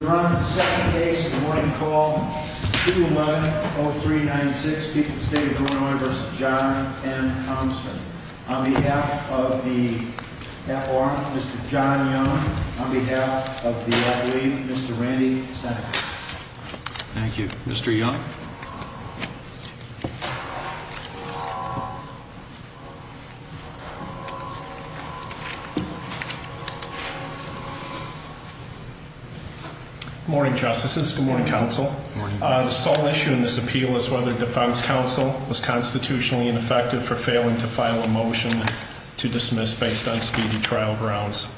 We're on the second case of the morning call, 2-1-0-3-9-6. Speaking to the State of Illinois v. John M. Thompson. On behalf of the F.R. Mr. John Young. On behalf of the L.A. Mr. Randy Sanders. Thank you. Mr. Young. Good morning, Justices. Good morning, Counsel. Good morning. The sole issue in this appeal is whether defense counsel was constitutionally ineffective for failing to file a motion to dismiss based on speedy trial grounds.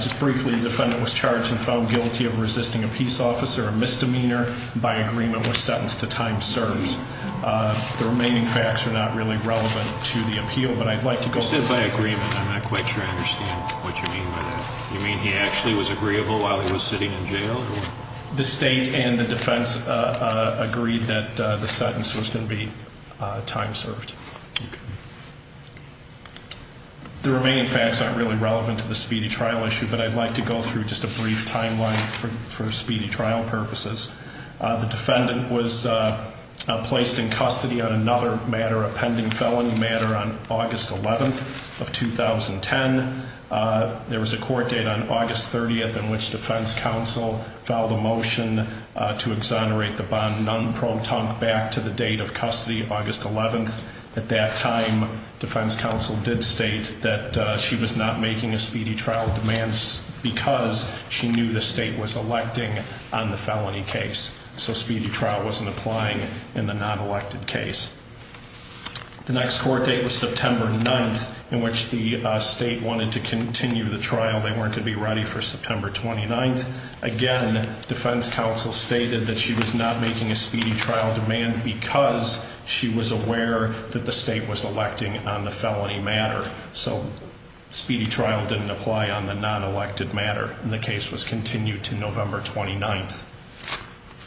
Just briefly, the defendant was charged and found guilty of resisting a peace officer, a misdemeanor, and by agreement was sentenced to time served. The remaining facts are not really relevant to the appeal, but I'd like to go ahead. You said by agreement. I'm not quite sure I understand what you mean by that. You mean he actually was agreeable while he was sitting in jail? The state and the defense agreed that the sentence was going to be time served. Okay. The remaining facts aren't really relevant to the speedy trial issue, but I'd like to go through just a brief timeline for speedy trial purposes. The defendant was placed in custody on another matter, a pending felony matter, on August 11th of 2010. There was a court date on August 30th in which defense counsel filed a motion to exonerate the bond nun, Pro Tunk, back to the date of custody, August 11th. At that time, defense counsel did state that she was not making a speedy trial demand because she knew the state was electing on the felony case. So speedy trial wasn't applying in the non-elected case. The next court date was September 9th in which the state wanted to continue the trial. They weren't going to be ready for September 29th. Again, defense counsel stated that she was not making a speedy trial demand because she was aware that the state was electing on the felony matter. So speedy trial didn't apply on the non-elected matter, and the case was continued to November 29th.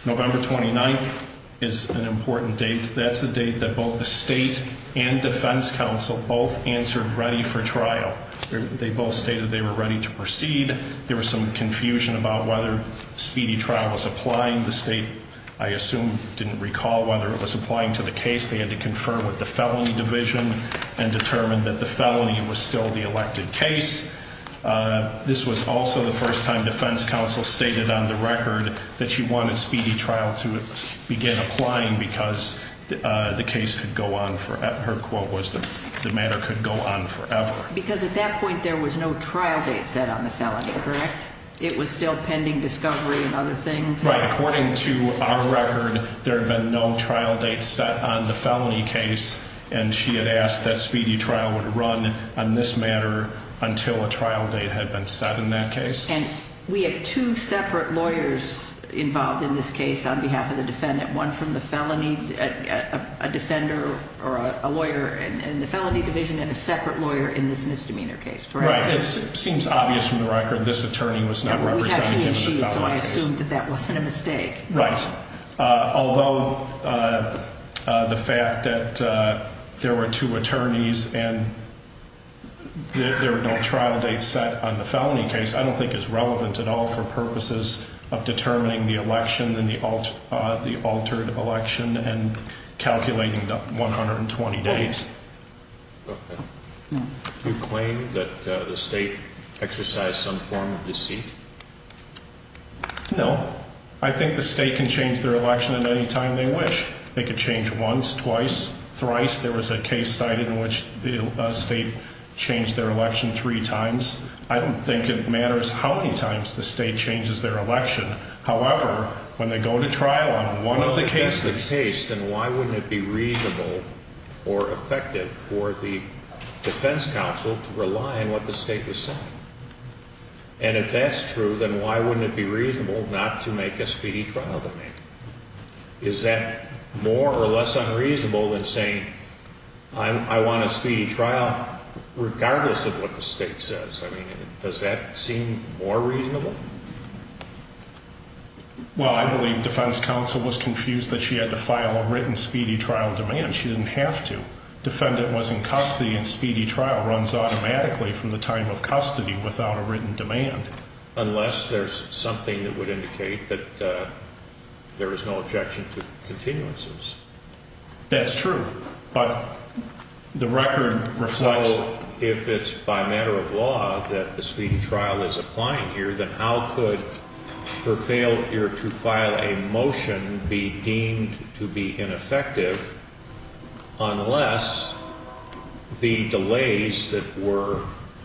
November 29th is an important date. That's the date that both the state and defense counsel both answered ready for trial. They both stated they were ready to proceed. There was some confusion about whether speedy trial was applying. The state, I assume, didn't recall whether it was applying to the case. They had to confer with the felony division and determine that the felony was still the elected case. This was also the first time defense counsel stated on the record that she wanted speedy trial to begin applying because the case could go on forever. Her quote was the matter could go on forever. Because at that point there was no trial date set on the felony, correct? It was still pending discovery and other things? Right. According to our record, there had been no trial date set on the felony case, and she had asked that speedy trial would run on this matter until a trial date had been set in that case. And we have two separate lawyers involved in this case on behalf of the defendant, one from the felony, a defender or a lawyer in the felony division, and a separate lawyer in this misdemeanor case, correct? Right. It seems obvious from the record this attorney was not representing him in the felony case. And we have he and she, so I assume that that wasn't a mistake. Right. Although the fact that there were two attorneys and there were no trial dates set on the felony case, I don't think is relevant at all for purposes of determining the election and the altered election and calculating the 120 days. Do you claim that the state exercised some form of deceit? No. I think the state can change their election at any time they wish. They could change once, twice, thrice. There was a case cited in which the state changed their election three times. I don't think it matters how many times the state changes their election. However, when they go to trial on one of the cases... If that's the case, then why wouldn't it be reasonable or effective for the defense counsel to rely on what the state was saying? And if that's true, then why wouldn't it be reasonable not to make a speedy trial demand? Is that more or less unreasonable than saying, I want a speedy trial, regardless of what the state says? I mean, does that seem more reasonable? Well, I believe defense counsel was confused that she had to file a written speedy trial demand. She didn't have to. Defendant was in custody and speedy trial runs automatically from the time of custody without a written demand. Unless there's something that would indicate that there is no objection to continuances. That's true, but the record reflects... that the speedy trial is applying here, then how could her failure to file a motion be deemed to be ineffective unless the delays that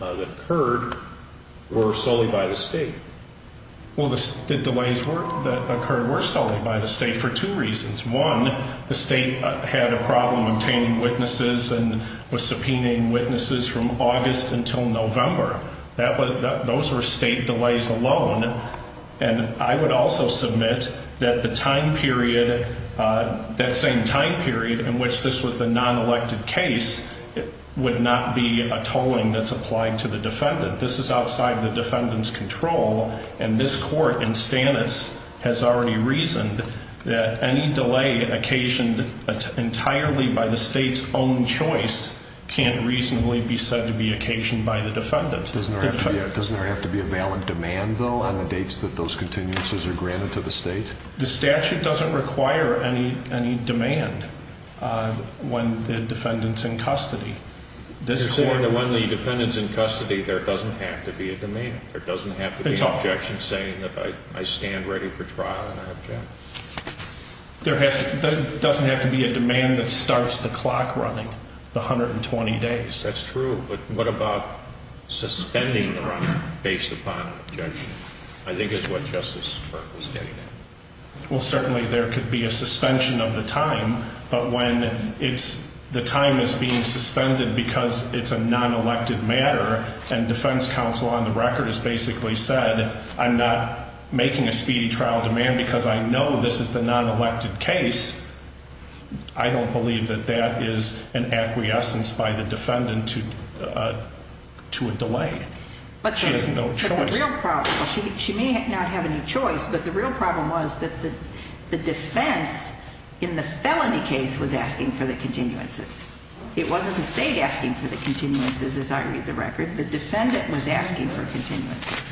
occurred were solely by the state? Well, the delays that occurred were solely by the state for two reasons. One, the state had a problem obtaining witnesses and was subpoenaing witnesses from August until November. Those were state delays alone. And I would also submit that the time period, that same time period in which this was a non-elected case, would not be a tolling that's applied to the defendant. This is outside the defendant's control and this court in Stannis has already reasoned that any delay occasioned entirely by the state's own choice can't reasonably be said to be occasioned by the defendant. Doesn't there have to be a valid demand, though, on the dates that those continuances are granted to the state? The statute doesn't require any demand when the defendant's in custody. When the defendant's in custody, there doesn't have to be a demand. There doesn't have to be an objection saying that I stand ready for trial and I object. There doesn't have to be a demand that starts the clock running, the 120 days. That's true, but what about suspending the run based upon an objection? I think that's what Justice Burke was getting at. Well, certainly there could be a suspension of the time, but when the time is being suspended because it's a non-elected matter and defense counsel on the record has basically said I'm not making a speedy trial demand because I know this is the non-elected case, I don't believe that that is an acquiescence by the defendant to a delay. She has no choice. She may not have any choice, but the real problem was that the defense in the felony case was asking for the continuances. It wasn't the state asking for the continuances, as I read the record. The defendant was asking for continuances.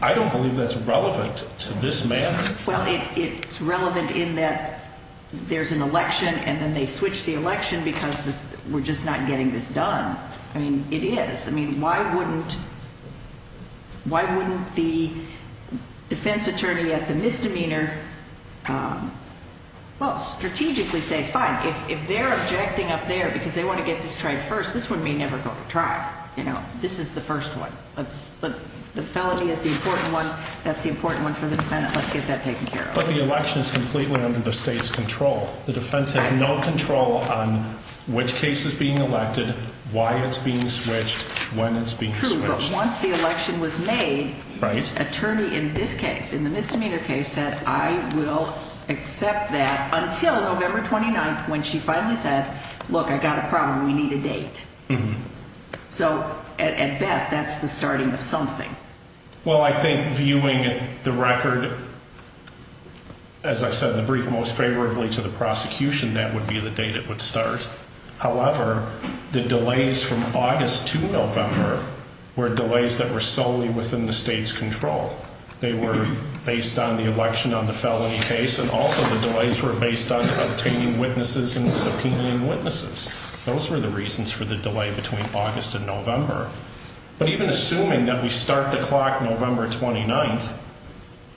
I don't believe that's relevant to this matter. Well, it's relevant in that there's an election and then they switch the election because we're just not getting this done. I mean, it is. I mean, why wouldn't the defense attorney at the misdemeanor, well, strategically say fine, if they're objecting up there because they want to get this tried first, this one may never go to trial. This is the first one. The felony is the important one. That's the important one for the defendant. Let's get that taken care of. But the election is completely under the state's control. The defense has no control on which case is being elected, why it's being switched, when it's being switched. True, but once the election was made, the attorney in this case, in the misdemeanor case, said I will accept that until November 29th when she finally said, look, I got a problem. We need a date. So, at best, that's the starting of something. Well, I think viewing the record, as I said in the brief, most favorably to the prosecution, that would be the date it would start. However, the delays from August to November were delays that were solely within the state's control. They were based on the election on the felony case and also the delays were based on obtaining witnesses and subpoenaing witnesses. Those were the reasons for the delay between August and November. But even assuming that we start the clock November 29th,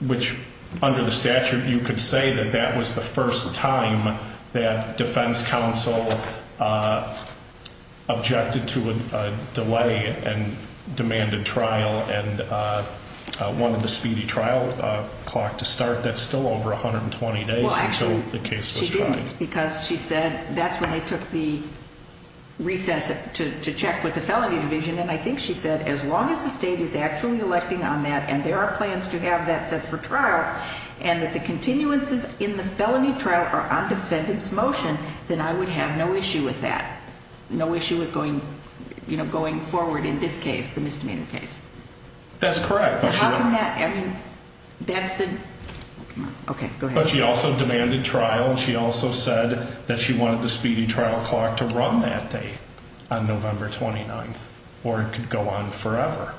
which under the statute, you could say that that was the first time that defense counsel objected to a delay and demanded trial and wanted the speedy trial clock to start. That's still over 120 days until the case was tried. Because she said that's when they took the recess to check with the felony division. And I think she said as long as the state is actually electing on that and there are plans to have that set for trial and that the continuances in the felony trial are on defendant's motion, then I would have no issue with that. No issue with going, you know, going forward in this case, the misdemeanor case. That's correct. I mean, that's the OK. But she also demanded trial. And she also said that she wanted the speedy trial clock to run that day on November 29th or it could go on forever.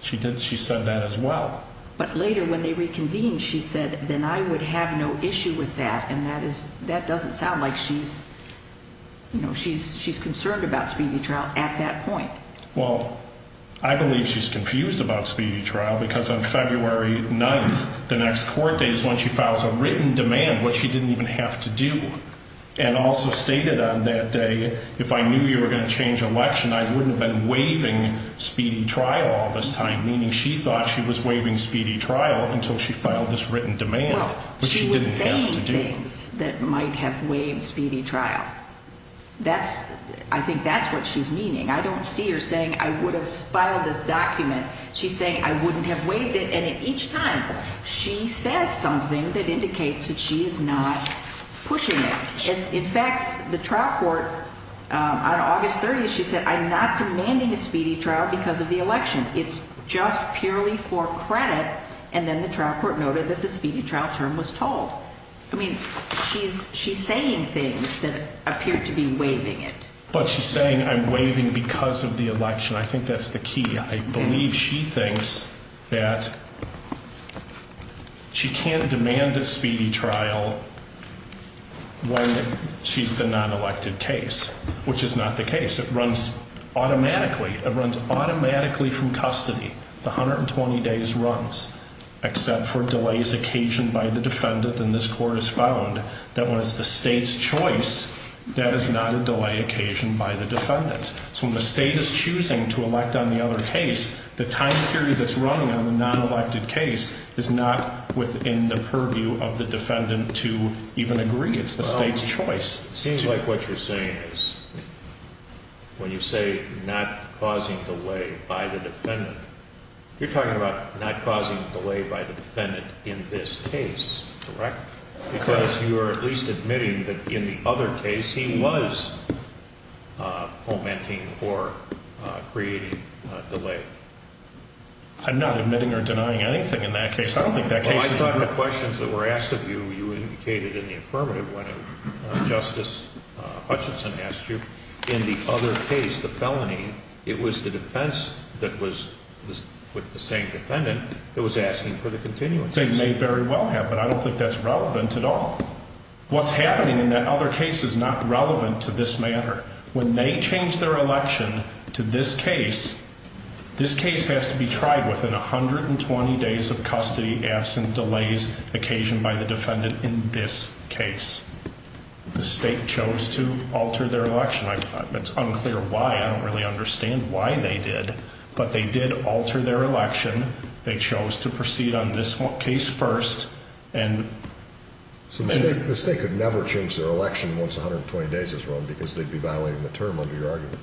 She did. She said that as well. But later when they reconvened, she said, then I would have no issue with that. And that is that doesn't sound like she's you know, she's she's concerned about speedy trial at that point. Well, I believe she's confused about speedy trial, because on February 9th, the next court date is when she files a written demand, which she didn't even have to do. And also stated on that day, if I knew you were going to change election, I wouldn't have been waiving speedy trial all this time, meaning she thought she was waiving speedy trial until she filed this written demand. She was saying things that might have waived speedy trial. That's I think that's what she's meaning. I don't see her saying I would have filed this document. She's saying I wouldn't have waived it. And each time she says something that indicates that she is not pushing it. In fact, the trial court on August 30th, she said, I'm not demanding a speedy trial because of the election. It's just purely for credit. And then the trial court noted that the speedy trial term was told. I mean, she's she's saying things that appear to be waiving it. But she's saying I'm waiving because of the election. I think that's the key. I believe she thinks that she can't demand a speedy trial when she's the non elected case, which is not the case. It runs automatically. It runs automatically from custody. The 120 days runs except for delays occasioned by the defendant. And this court has found that when it's the state's choice, that is not a delay occasioned by the defendant. So when the state is choosing to elect on the other case, the time period that's running on the non elected case is not within the purview of the defendant to even agree. It's the state's choice. It seems like what you're saying is when you say not causing delay by the defendant, you're talking about not causing delay by the defendant in this case, correct? Because you are at least admitting that in the other case, he was fomenting or creating delay. I'm not admitting or denying anything in that case. I thought the questions that were asked of you, you indicated in the affirmative when Justice Hutchinson asked you in the other case, the felony, it was the defense that was with the same defendant that was asking for the continuance. They may very well have, but I don't think that's relevant at all. What's happening in that other case is not relevant to this matter. When they change their election to this case, this case has to be tried within 120 days of custody, absent delays occasioned by the defendant in this case. The state chose to alter their election. It's unclear why. I don't really understand why they did, but they did alter their election. They chose to proceed on this case first. The state could never change their election once 120 days is run because they'd be violating the term under your argument.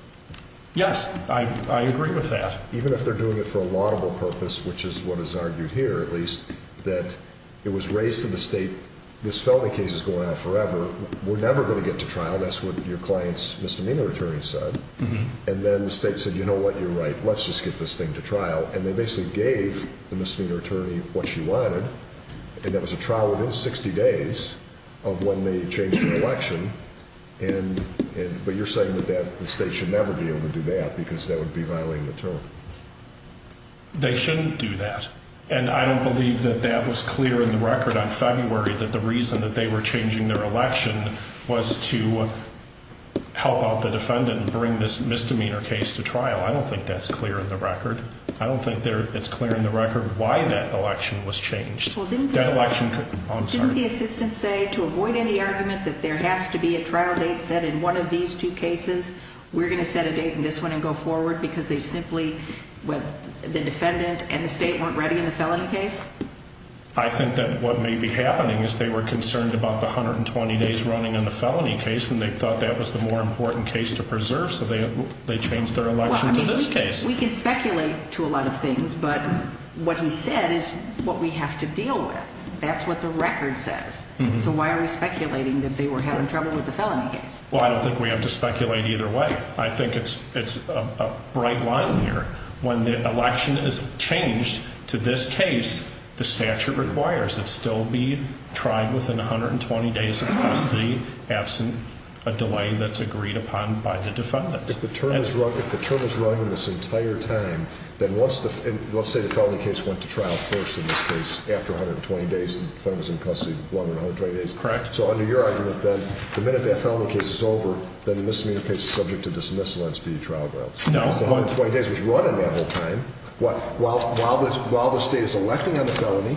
Yes, I agree with that. Even if they're doing it for a laudable purpose, which is what is argued here at least, that it was raised to the state, this felony case is going on forever. We're never going to get to trial. That's what your client's misdemeanor attorney said. And then the state said, you know what, you're right. Let's just get this thing to trial. And they basically gave the misdemeanor attorney what she wanted. And that was a trial within 60 days of when they changed their election. But you're saying that the state should never be able to do that because that would be violating the term. They shouldn't do that. And I don't believe that that was clear in the record on February, that the reason that they were changing their election was to help out the defendant and bring this misdemeanor case to trial. I don't think that's clear in the record. I don't think it's clear in the record why that election was changed. Didn't the assistant say to avoid any argument that there has to be a trial date set in one of these two cases? We're going to set a date in this one and go forward because they simply, the defendant and the state weren't ready in the felony case? I think that what may be happening is they were concerned about the 120 days running on the felony case, and they thought that was the more important case to preserve. So they changed their election to this case. We can speculate to a lot of things, but what he said is what we have to deal with. That's what the record says. So why are we speculating that they were having trouble with the felony case? Well, I don't think we have to speculate either way. I think it's a bright line here. When the election is changed to this case, the statute requires it still be tried within 120 days of custody, absent a delay that's agreed upon by the defendant. If the term is running this entire time, then once the, let's say the felony case went to trial first in this case, after 120 days, the defendant was in custody longer than 120 days. Correct. So under your argument then, the minute that felony case is over, then the misdemeanor case is subject to dismissal and it's due to trial grounds. No. So 120 days was running that whole time. While the state is electing on the felony,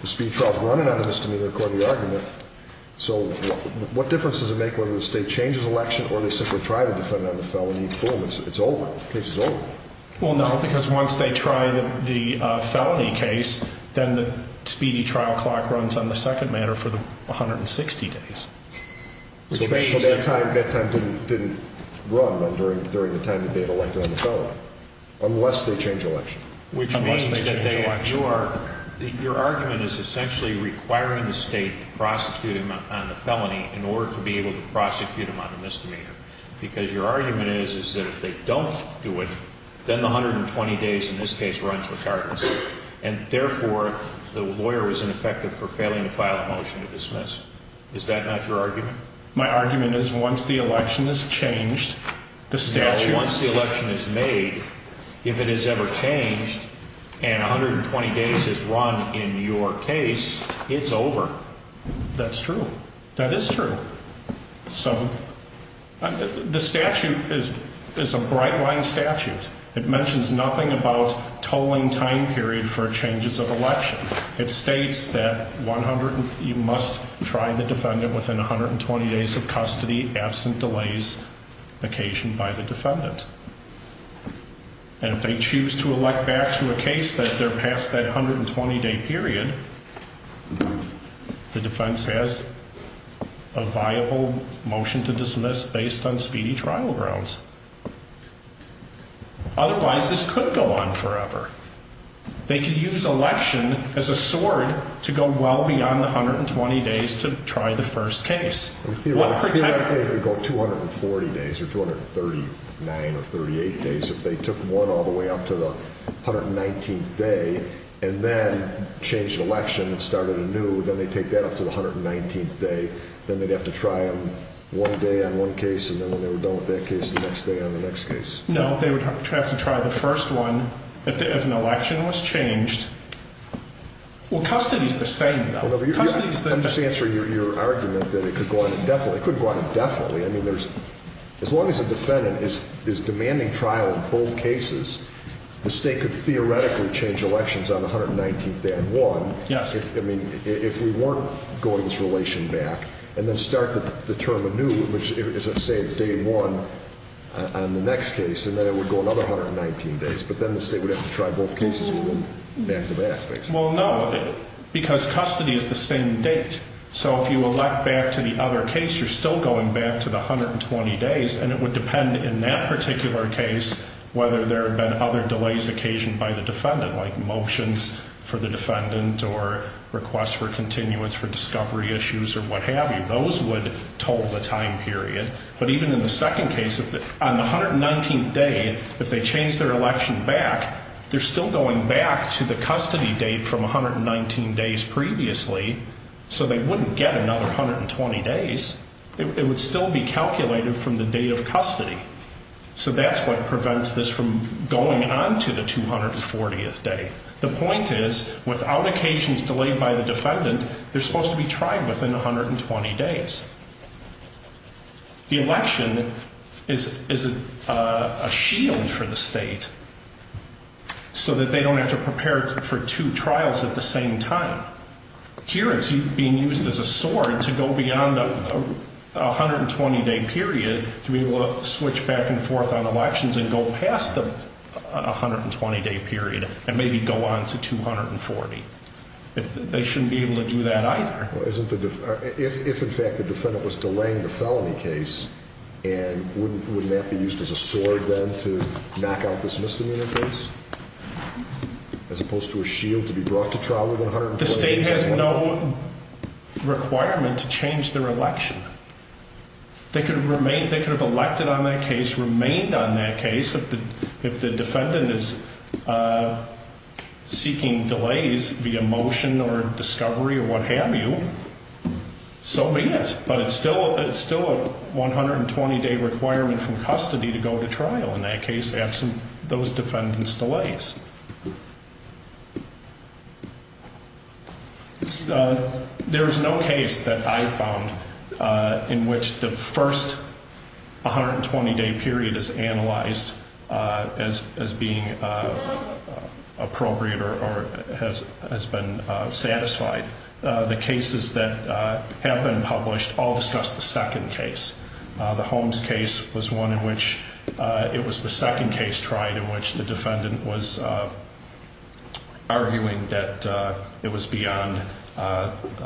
the speed trial is running on the misdemeanor according to the argument. So what difference does it make whether the state changes election or they simply try to defend on the felony, boom, it's over. The case is over. Well, no, because once they try the felony case, then the speedy trial clock runs on the second manner for the 160 days. So that time didn't run then during the time that they had elected on the felony, unless they change election. Which means that your argument is essentially requiring the state to prosecute him on the felony in order to be able to prosecute him on the misdemeanor. Because your argument is that if they don't do it, then the 120 days in this case runs regardless. And therefore, the lawyer was ineffective for failing to file a motion to dismiss. Is that not your argument? My argument is once the election is changed, the statute... Now, once the election is made, if it is ever changed and 120 days is run in your case, it's over. That's true. That is true. So the statute is a bright line statute. It mentions nothing about tolling time period for changes of election. It states that you must try the defendant within 120 days of custody, absent delays occasioned by the defendant. And if they choose to elect back to a case that they're past that 120 day period, the defense has a viable motion to dismiss based on speedy trial grounds. Otherwise, this could go on forever. They could use election as a sword to go well beyond the 120 days to try the first case. Theoretically, it could go 240 days or 239 or 238 days if they took one all the way up to the 119th day and then changed election and started anew. Then they take that up to the 119th day. Then they'd have to try them one day on one case. And then when they were done with that case, the next day on the next case. No, they would have to try the first one if an election was changed. Well, custody is the same though. I'm just answering your argument that it could go on indefinitely. It could go on indefinitely. As long as a defendant is demanding trial in both cases, the state could theoretically change elections on the 119th day on one. Yes. I mean, if we weren't going this relation back and then start the term anew, which is, say, day one on the next case, then it would go another 119 days. But then the state would have to try both cases again back to back, basically. Well, no, because custody is the same date. So if you elect back to the other case, you're still going back to the 120 days. And it would depend in that particular case whether there have been other delays occasioned by the defendant, like motions for the defendant or requests for continuance for discovery issues or what have you. Those would toll the time period. But even in the second case, on the 119th day, if they change their election back, they're still going back to the custody date from 119 days previously. So they wouldn't get another 120 days. It would still be calculated from the date of custody. So that's what prevents this from going on to the 240th day. The point is, without occasions delayed by the defendant, they're supposed to be tried within 120 days. The election is a shield for the state so that they don't have to prepare for two trials at the same time. Here it's being used as a sword to go beyond the 120-day period to be able to switch back and forth on elections and go past the 120-day period and maybe go on to 240. They shouldn't be able to do that either. If, in fact, the defendant was delaying the felony case, wouldn't that be used as a sword then to knock out this misdemeanor case? As opposed to a shield to be brought to trial within 120 days? The state has no requirement to change their election. They could have elected on that case, remained on that case. If the defendant is seeking delays via motion or discovery or what have you, so be it. But it's still a 120-day requirement from custody to go to trial in that case, absent those defendant's delays. There is no case that I found in which the first 120-day period is analyzed as being appropriate or has been satisfied. The cases that have been published all discuss the second case. The Holmes case was one in which it was the second case tried in which the defendant was arguing that it was beyond the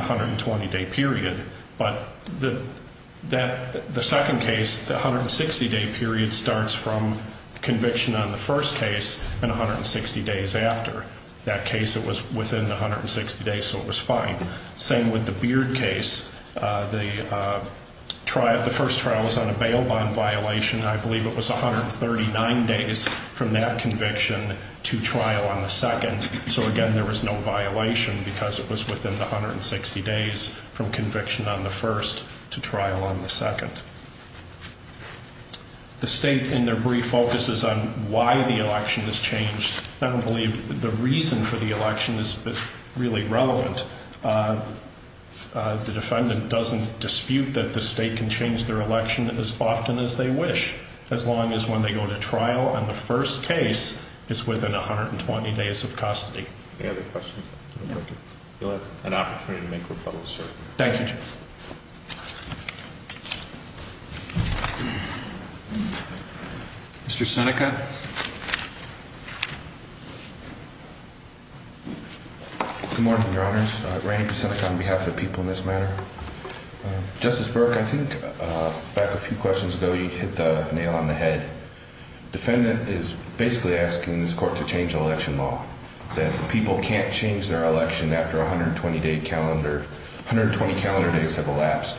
120-day period. But the second case, the 160-day period, starts from conviction on the first case and 160 days after. That case, it was within the 160 days, so it was fine. Same with the Beard case. The first trial was on a bail bond violation. I believe it was 139 days from that conviction to trial on the second. So, again, there was no violation because it was within the 160 days from conviction on the first to trial on the second. The state, in their brief, focuses on why the election is changed. I don't believe the reason for the election is really relevant. The defendant doesn't dispute that the state can change their election as often as they wish, as long as when they go to trial on the first case, it's within 120 days of custody. Any other questions? You'll have an opportunity to make rebuttals, sir. Thank you, Jim. Mr. Seneca? Good morning, Your Honors. Randy Seneca on behalf of the people in this matter. Justice Burke, I think back a few questions ago you hit the nail on the head. Defendant is basically asking this court to change the election law, that the people can't change their election after 120-day calendar. 120 calendar days have elapsed.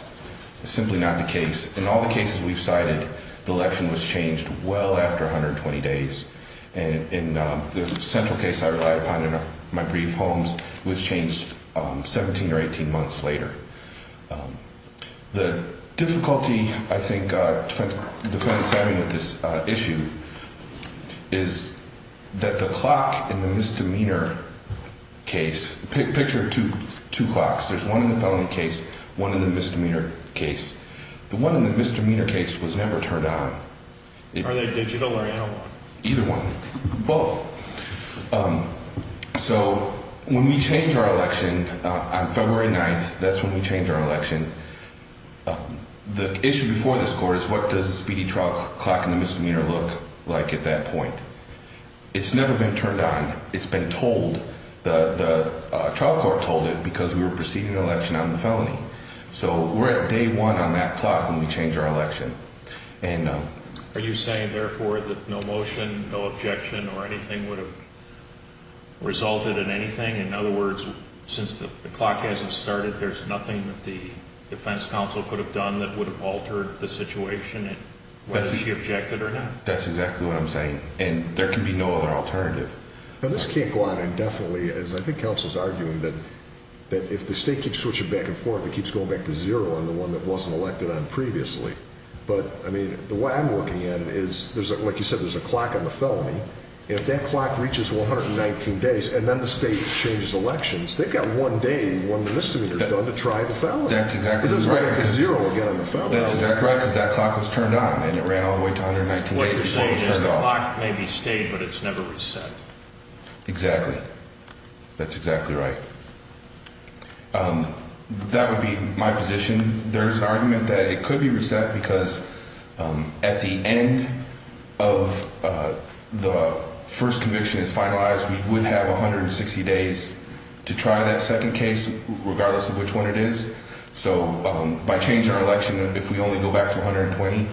It's simply not the case. In all the cases we've cited, the election was changed well after 120 days. And the central case I relied upon in my brief, Holmes, was changed 17 or 18 months later. The difficulty, I think, defendant's having with this issue is that the clock in the misdemeanor case, picture two clocks. There's one in the felony case, one in the misdemeanor case. The one in the misdemeanor case was never turned on. Are they digital or analog? Either one. Both. So when we change our election on February 9th, that's when we change our election, the issue before this court is what does the speedy trial clock in the misdemeanor look like at that point? It's never been turned on. It's been told. The trial court told it because we were proceeding an election on the felony. So we're at day one on that clock when we change our election. Are you saying, therefore, that no motion, no objection, or anything would have resulted in anything? In other words, since the clock hasn't started, there's nothing that the defense counsel could have done that would have altered the situation whether she objected or not? That's exactly what I'm saying. And there can be no other alternative. Now, this can't go on indefinitely. I think counsel's arguing that if the state keeps switching back and forth, it keeps going back to zero on the one that wasn't elected on previously. But, I mean, the way I'm looking at it is, like you said, there's a clock on the felony. If that clock reaches 119 days and then the state changes elections, they've got one day, one misdemeanor done to try the felony. That's exactly right. It doesn't go back to zero again on the felony. That's exactly right because that clock was turned on and it ran all the way to 119 days before it was turned off. The clock may be stayed, but it's never reset. Exactly. That's exactly right. That would be my position. There's an argument that it could be reset because at the end of the first conviction is finalized, we would have 160 days to try that second case, regardless of which one it is. So, by changing our election, if we only go back to 120,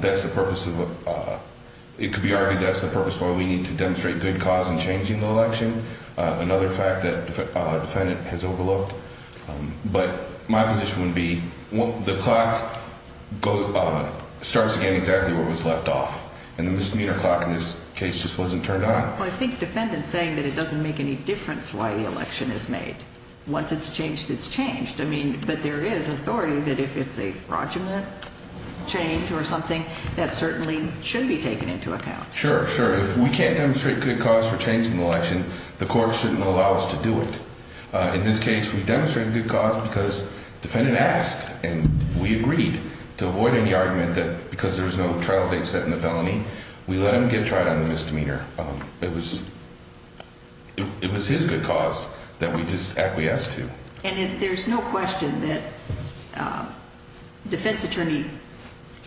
that's the purpose of, it could be argued that's the purpose why we need to demonstrate good cause in changing the election. Another fact that the defendant has overlooked. But my position would be the clock starts again exactly where it was left off. And the misdemeanor clock in this case just wasn't turned on. Well, I think defendant's saying that it doesn't make any difference why the election is made. Once it's changed, it's changed. I mean, but there is authority that if it's a fraudulent change or something, that certainly should be taken into account. Sure, sure. If we can't demonstrate good cause for changing the election, the court shouldn't allow us to do it. In this case, we demonstrated good cause because defendant asked and we agreed to avoid any argument that because there was no trial date set in the felony, we let him get tried on the misdemeanor. It was his good cause that we just acquiesced to. And there's no question that defense attorney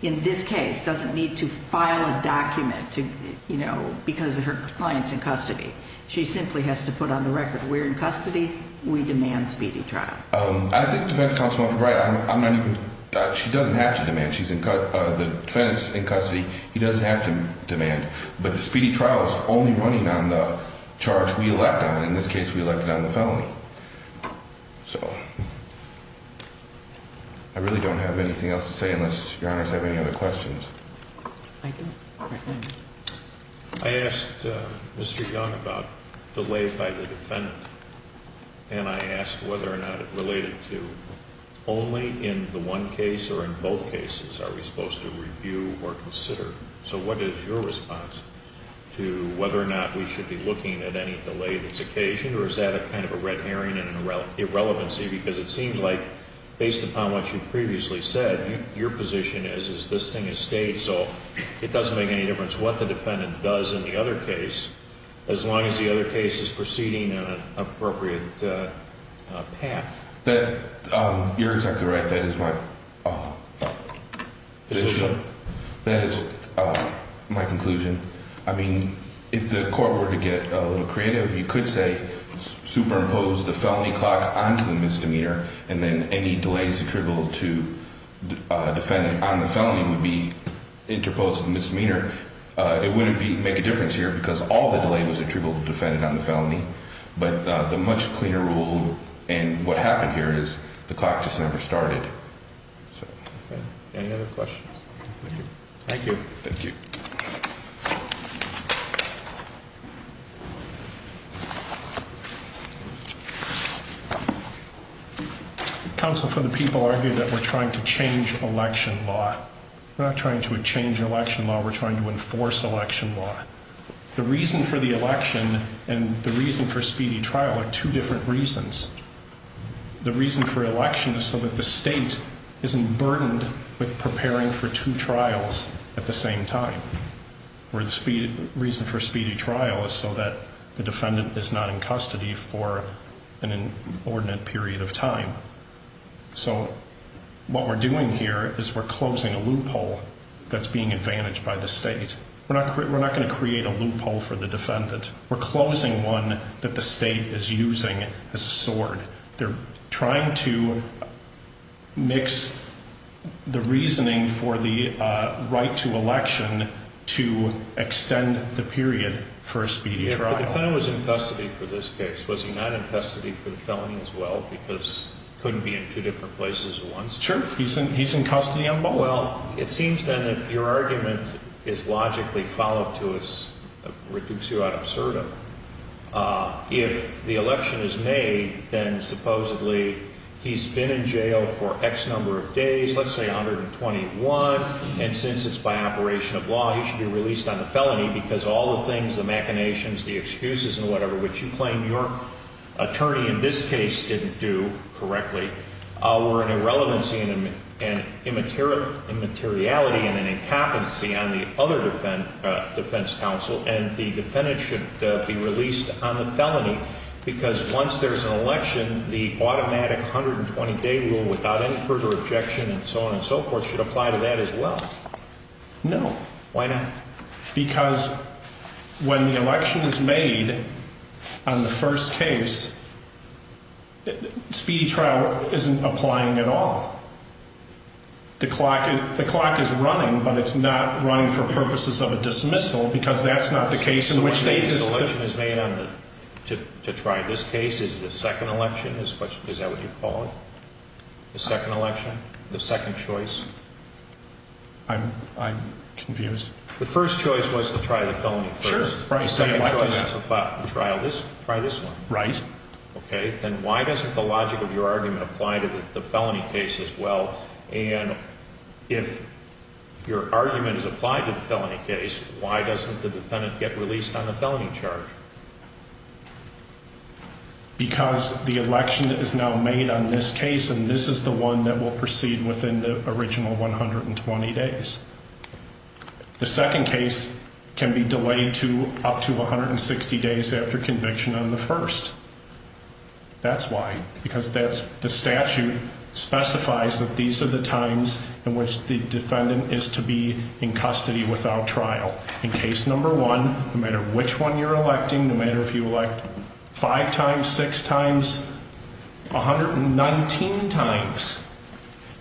in this case doesn't need to file a document to, you know, because of her clients in custody. She simply has to put on the record we're in custody. We demand speedy trial. I think defense counsel is right. She doesn't have to demand she's in the defense in custody. He doesn't have to demand. But the speedy trial is only running on the charge we elect on. In this case, we elected on the felony. So I really don't have anything else to say unless your honors have any other questions. I do. I asked Mr. Young about delay by the defendant. And I asked whether or not it related to only in the one case or in both cases are we supposed to review or consider? So what is your response to whether or not we should be looking at any delay that's occasioned? Or is that a kind of a red herring and an irrelevancy? Because it seems like based upon what you've previously said, your position is, is this thing is staged. So it doesn't make any difference what the defendant does in the other case as long as the other case is proceeding in an appropriate path. You're exactly right. That is my position. That is my conclusion. I mean, if the court were to get a little creative, you could say superimpose the felony clock onto the misdemeanor, and then any delays attributable to the defendant on the felony would be interposed to the misdemeanor. It wouldn't make a difference here because all the delay was attributable to the defendant on the felony. But the much cleaner rule and what happened here is the clock just never started. Any other questions? Thank you. Thank you. Counsel for the people argue that we're trying to change election law. We're not trying to change election law. We're trying to enforce election law. The reason for the election and the reason for speedy trial are two different reasons. The reason for election is so that the state isn't burdened with preparing for two trials at the same time. The reason for speedy trial is so that the defendant is not in custody for an inordinate period of time. So what we're doing here is we're closing a loophole that's being advantaged by the state. We're not going to create a loophole for the defendant. We're closing one that the state is using as a sword. They're trying to mix the reasoning for the right to election to extend the period for a speedy trial. If the defendant was in custody for this case, was he not in custody for the felony as well because he couldn't be in two different places at once? Sure. He's in custody on both. Well, it seems then that your argument is logically followed to a reductio ad absurdum. If the election is made, then supposedly he's been in jail for X number of days, let's say 121. And since it's by operation of law, he should be released on a felony because all the things, the machinations, the excuses and whatever, which you claim your attorney in this case didn't do correctly were an irrelevancy and immateriality and an incapacity on the other defense counsel. And the defendant should be released on the felony because once there's an election, the automatic 120-day rule without any further objection and so on and so forth should apply to that as well. No. Why not? Because when the election is made on the first case, speedy trial isn't applying at all. The clock is running, but it's not running for purposes of a dismissal because that's not the case in which they did. The election is made to try this case is the second election. Is that what you call it? The second election? The second choice? I'm confused. The first choice was to try the felony first. Sure. The second choice is to try this one. Right. Okay. Then why doesn't the logic of your argument apply to the felony case as well? And if your argument is applied to the felony case, why doesn't the defendant get released on the felony charge? Because the election is now made on this case, and this is the one that will proceed within the original 120 days. The second case can be delayed to up to 160 days after conviction on the first. That's why, because that's the statute specifies that these are the times in which the defendant is to be in custody without trial. In case number one, no matter which one you're electing, no matter if you elect five times, six times, 119 times,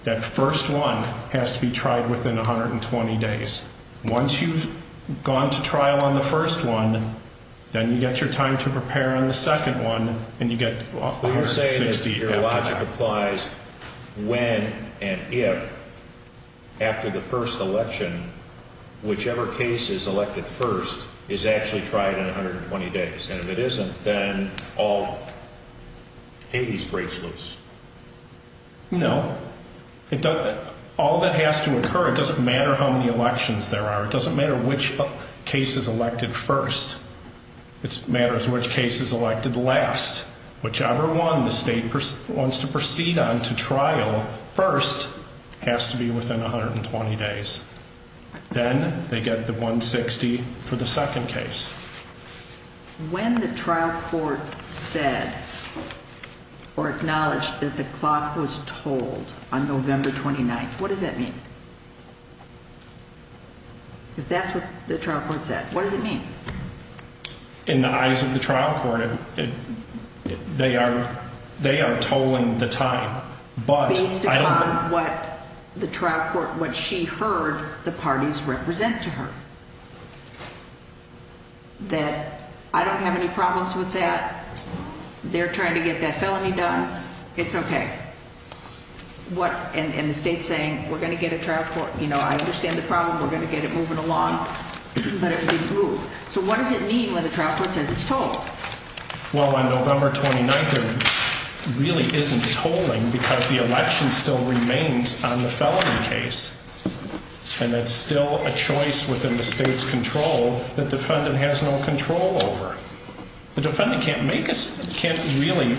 that first one has to be tried within 120 days. Once you've gone to trial on the first one, then you get your time to prepare on the second one, and you get 160 after that. So the fact that a case is elected first is actually tried in 120 days, and if it isn't, then all hades breaks loose. No. All that has to occur, it doesn't matter how many elections there are. It doesn't matter which case is elected first. It matters which case is elected last. Whichever one the state wants to proceed on to trial first has to be within 120 days. Then they get the 160 for the second case. When the trial court said or acknowledged that the clock was told on November 29th, what does that mean? Because that's what the trial court said. What does it mean? In the eyes of the trial court, they are tolling the time. Based upon what the trial court, what she heard the parties represent to her. That I don't have any problems with that. They're trying to get that felony done. It's okay. And the state's saying, we're going to get a trial court, you know, I understand the problem, we're going to get it moving along. But it didn't move. So what does it mean when the trial court says it's tolled? Well, on November 29th, there really isn't tolling because the election still remains on the felony case. And that's still a choice within the state's control that the defendant has no control over. The defendant can't really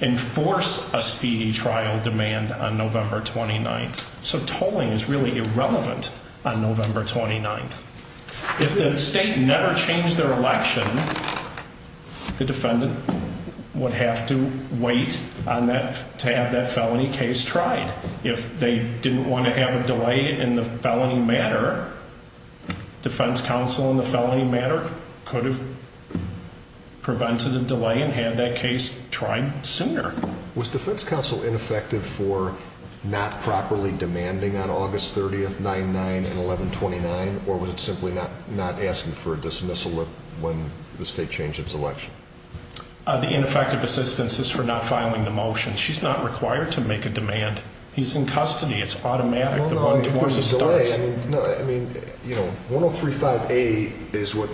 enforce a speedy trial demand on November 29th. So tolling is really irrelevant on November 29th. If the state never changed their election, the defendant would have to wait to have that felony case tried. If they didn't want to have a delay in the felony matter, defense counsel in the felony matter could have prevented a delay and had that case tried sooner. Was defense counsel ineffective for not properly demanding on August 30th, 9-9 and 11-29? Or was it simply not asking for a dismissal when the state changed its election? The ineffective assistance is for not filing the motion. She's not required to make a demand. He's in custody. It's automatic. No, no, there's a delay. I mean, you know, 103-5A is what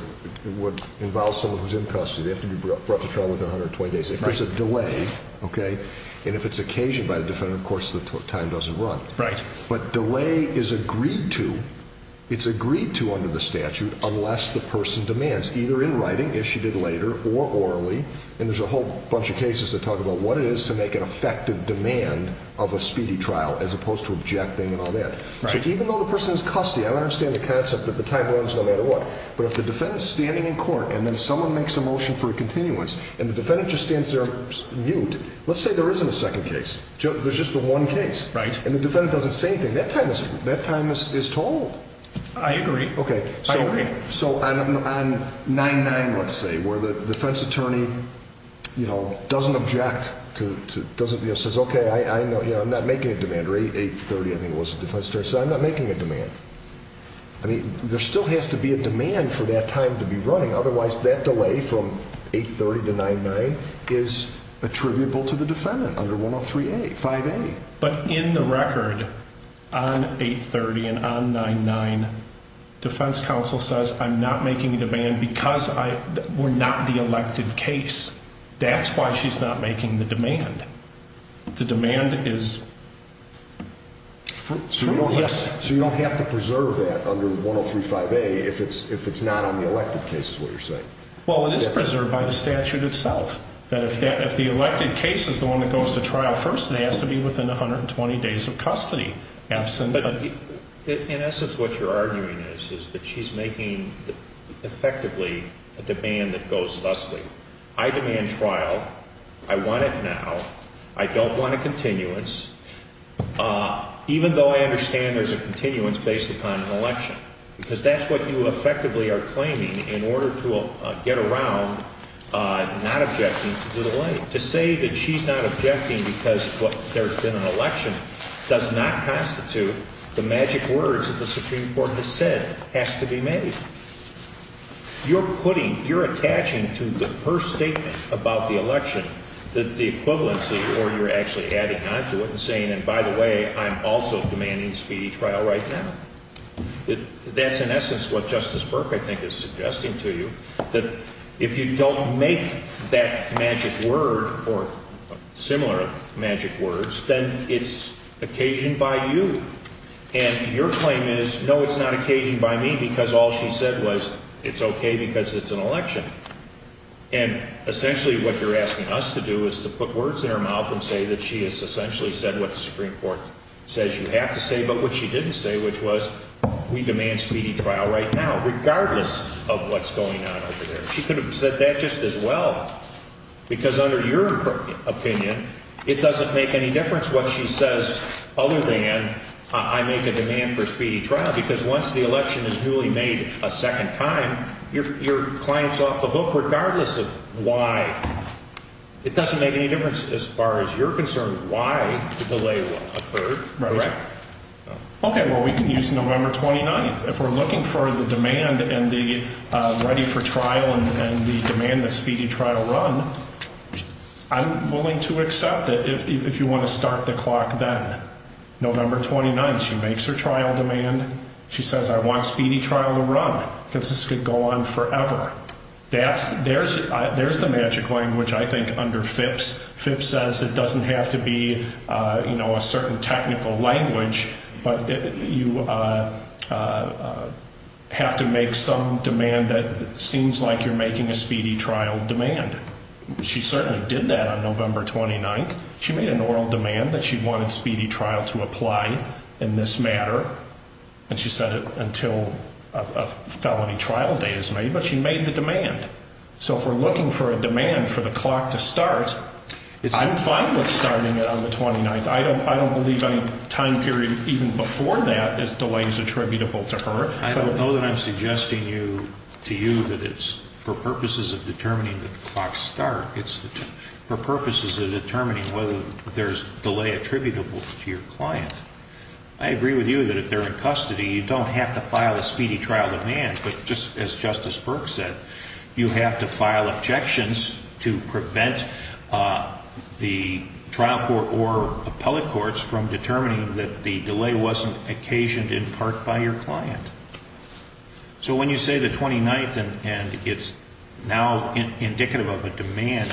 would involve someone who's in custody. They have to be brought to trial within 120 days. If there's a delay, okay, and if it's occasioned by the defendant, of course, the time doesn't run. Right. But delay is agreed to. It's agreed to under the statute unless the person demands, either in writing, as she did later, or orally. And there's a whole bunch of cases that talk about what it is to make an effective demand of a speedy trial as opposed to objecting and all that. So even though the person's in custody, I don't understand the concept that the time runs no matter what. But if the defendant's standing in court and then someone makes a motion for a continuance and the defendant just stands there mute, let's say there isn't a second case. There's just the one case. Right. And the defendant doesn't say anything. That time is told. I agree. Okay. I agree. So on 9-9, let's say, where the defense attorney, you know, doesn't object, doesn't, you know, says, okay, I'm not making a demand. Or 8-30, I think it was, the defense attorney said, I'm not making a demand. I mean, there still has to be a demand for that time to be running. Otherwise, that delay from 8-30 to 9-9 is attributable to the defendant under 103a, 5a. But in the record, on 8-30 and on 9-9, defense counsel says, I'm not making a demand because I, we're not the elected case. That's why she's not making the demand. The demand is free. Yes. So you don't have to preserve that under 103, 5a if it's not on the elected case is what you're saying. Well, it is preserved by the statute itself. That if the elected case is the one that goes to trial first, it has to be within 120 days of custody. In essence, what you're arguing is that she's making effectively a demand that goes thusly. I demand trial. I want it now. I don't want a continuance. Even though I understand there's a continuance based upon an election. Because that's what you effectively are claiming in order to get around not objecting to the delay. To say that she's not objecting because there's been an election does not constitute the magic words that the Supreme Court has said has to be made. You're putting, you're attaching to her statement about the election that the equivalency or you're actually adding on to it and saying, and by the way, I'm also demanding speedy trial right now. That's in essence what Justice Burke, I think, is suggesting to you that if you don't make that magic word or similar magic words, then it's occasioned by you. And your claim is, no, it's not occasioned by me because all she said was it's okay because it's an election. And essentially what you're asking us to do is to put words in her mouth and say that she has essentially said what the Supreme Court says you have to say. But what she didn't say, which was we demand speedy trial right now, regardless of what's going on over there. She could have said that just as well. Because under your opinion, it doesn't make any difference what she says. Other than I make a demand for speedy trial, because once the election is newly made a second time, you're your clients off the hook, regardless of why. It doesn't make any difference as far as you're concerned. Okay, well, we can use November 29th. If we're looking for the demand and the ready for trial and the demand that speedy trial run, I'm willing to accept it if you want to start the clock then. November 29th, she makes her trial demand. She says, I want speedy trial to run because this could go on forever. There's the magic language, I think, under FIPS. FIPS says it doesn't have to be a certain technical language, but you have to make some demand that seems like you're making a speedy trial demand. She certainly did that on November 29th. She made an oral demand that she wanted speedy trial to apply in this matter. And she said until a felony trial date is made. But she made the demand. So if we're looking for a demand for the clock to start, I'm fine with starting it on the 29th. I don't believe any time period even before that is delays attributable to her. I don't know that I'm suggesting to you that it's for purposes of determining the clock start. It's for purposes of determining whether there's delay attributable to your client. I agree with you that if they're in custody, you don't have to file a speedy trial demand. But just as Justice Burke said, you have to file objections to prevent the trial court or appellate courts from determining that the delay wasn't occasioned in part by your client. So when you say the 29th and it's now indicative of a demand,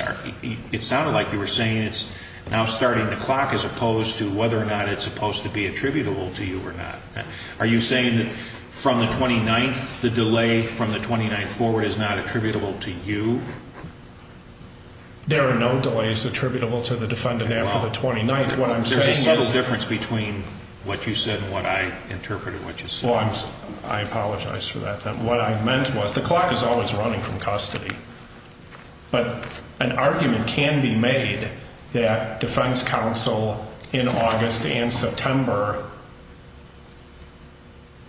it sounded like you were saying it's now starting the clock as opposed to whether or not it's supposed to be attributable to you or not. Are you saying that from the 29th, the delay from the 29th forward is not attributable to you? There are no delays attributable to the defendant after the 29th. There's a difference between what you said and what I interpreted what you said. I apologize for that. What I meant was the clock is always running from custody. But an argument can be made that defense counsel in August and September.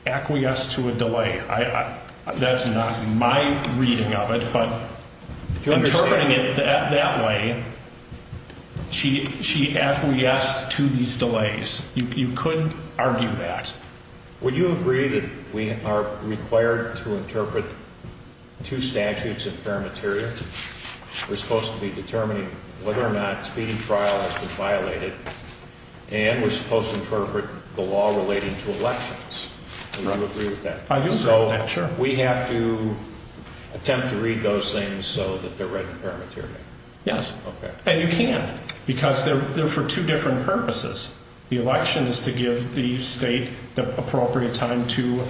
Acquiesced to a delay. That's not my reading of it, but you're interpreting it that way. She she asked to these delays. You couldn't argue that. Would you agree that we are required to interpret two statutes of paramateria? We're supposed to be determining whether or not speeding trial has been violated. And we're supposed to interpret the law relating to elections. Do you agree with that? I do. So we have to attempt to read those things so that they're read in paramateria. Yes. And you can't because they're there for two different purposes. The election is to give the state the appropriate time to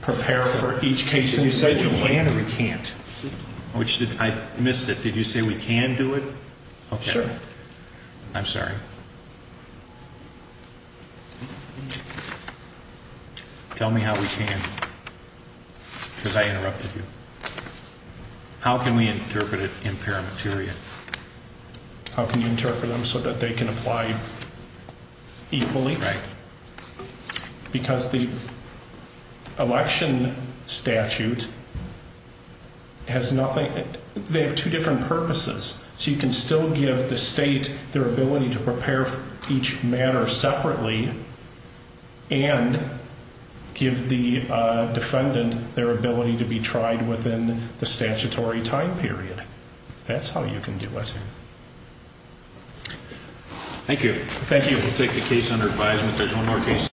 prepare for each case. And you said you plan or we can't, which I missed it. Did you say we can do it? Okay. I'm sorry. Tell me how we can. Because I interrupted you. How can we interpret it in paramateria? How can you interpret them so that they can apply equally? Right. Because the election statute has nothing. They have two different purposes. So you can still give the state their ability to prepare each matter separately and give the defendant their ability to be tried within the statutory time period. That's how you can do it. Thank you. Thank you. We'll take the case under advisement. There's one more case.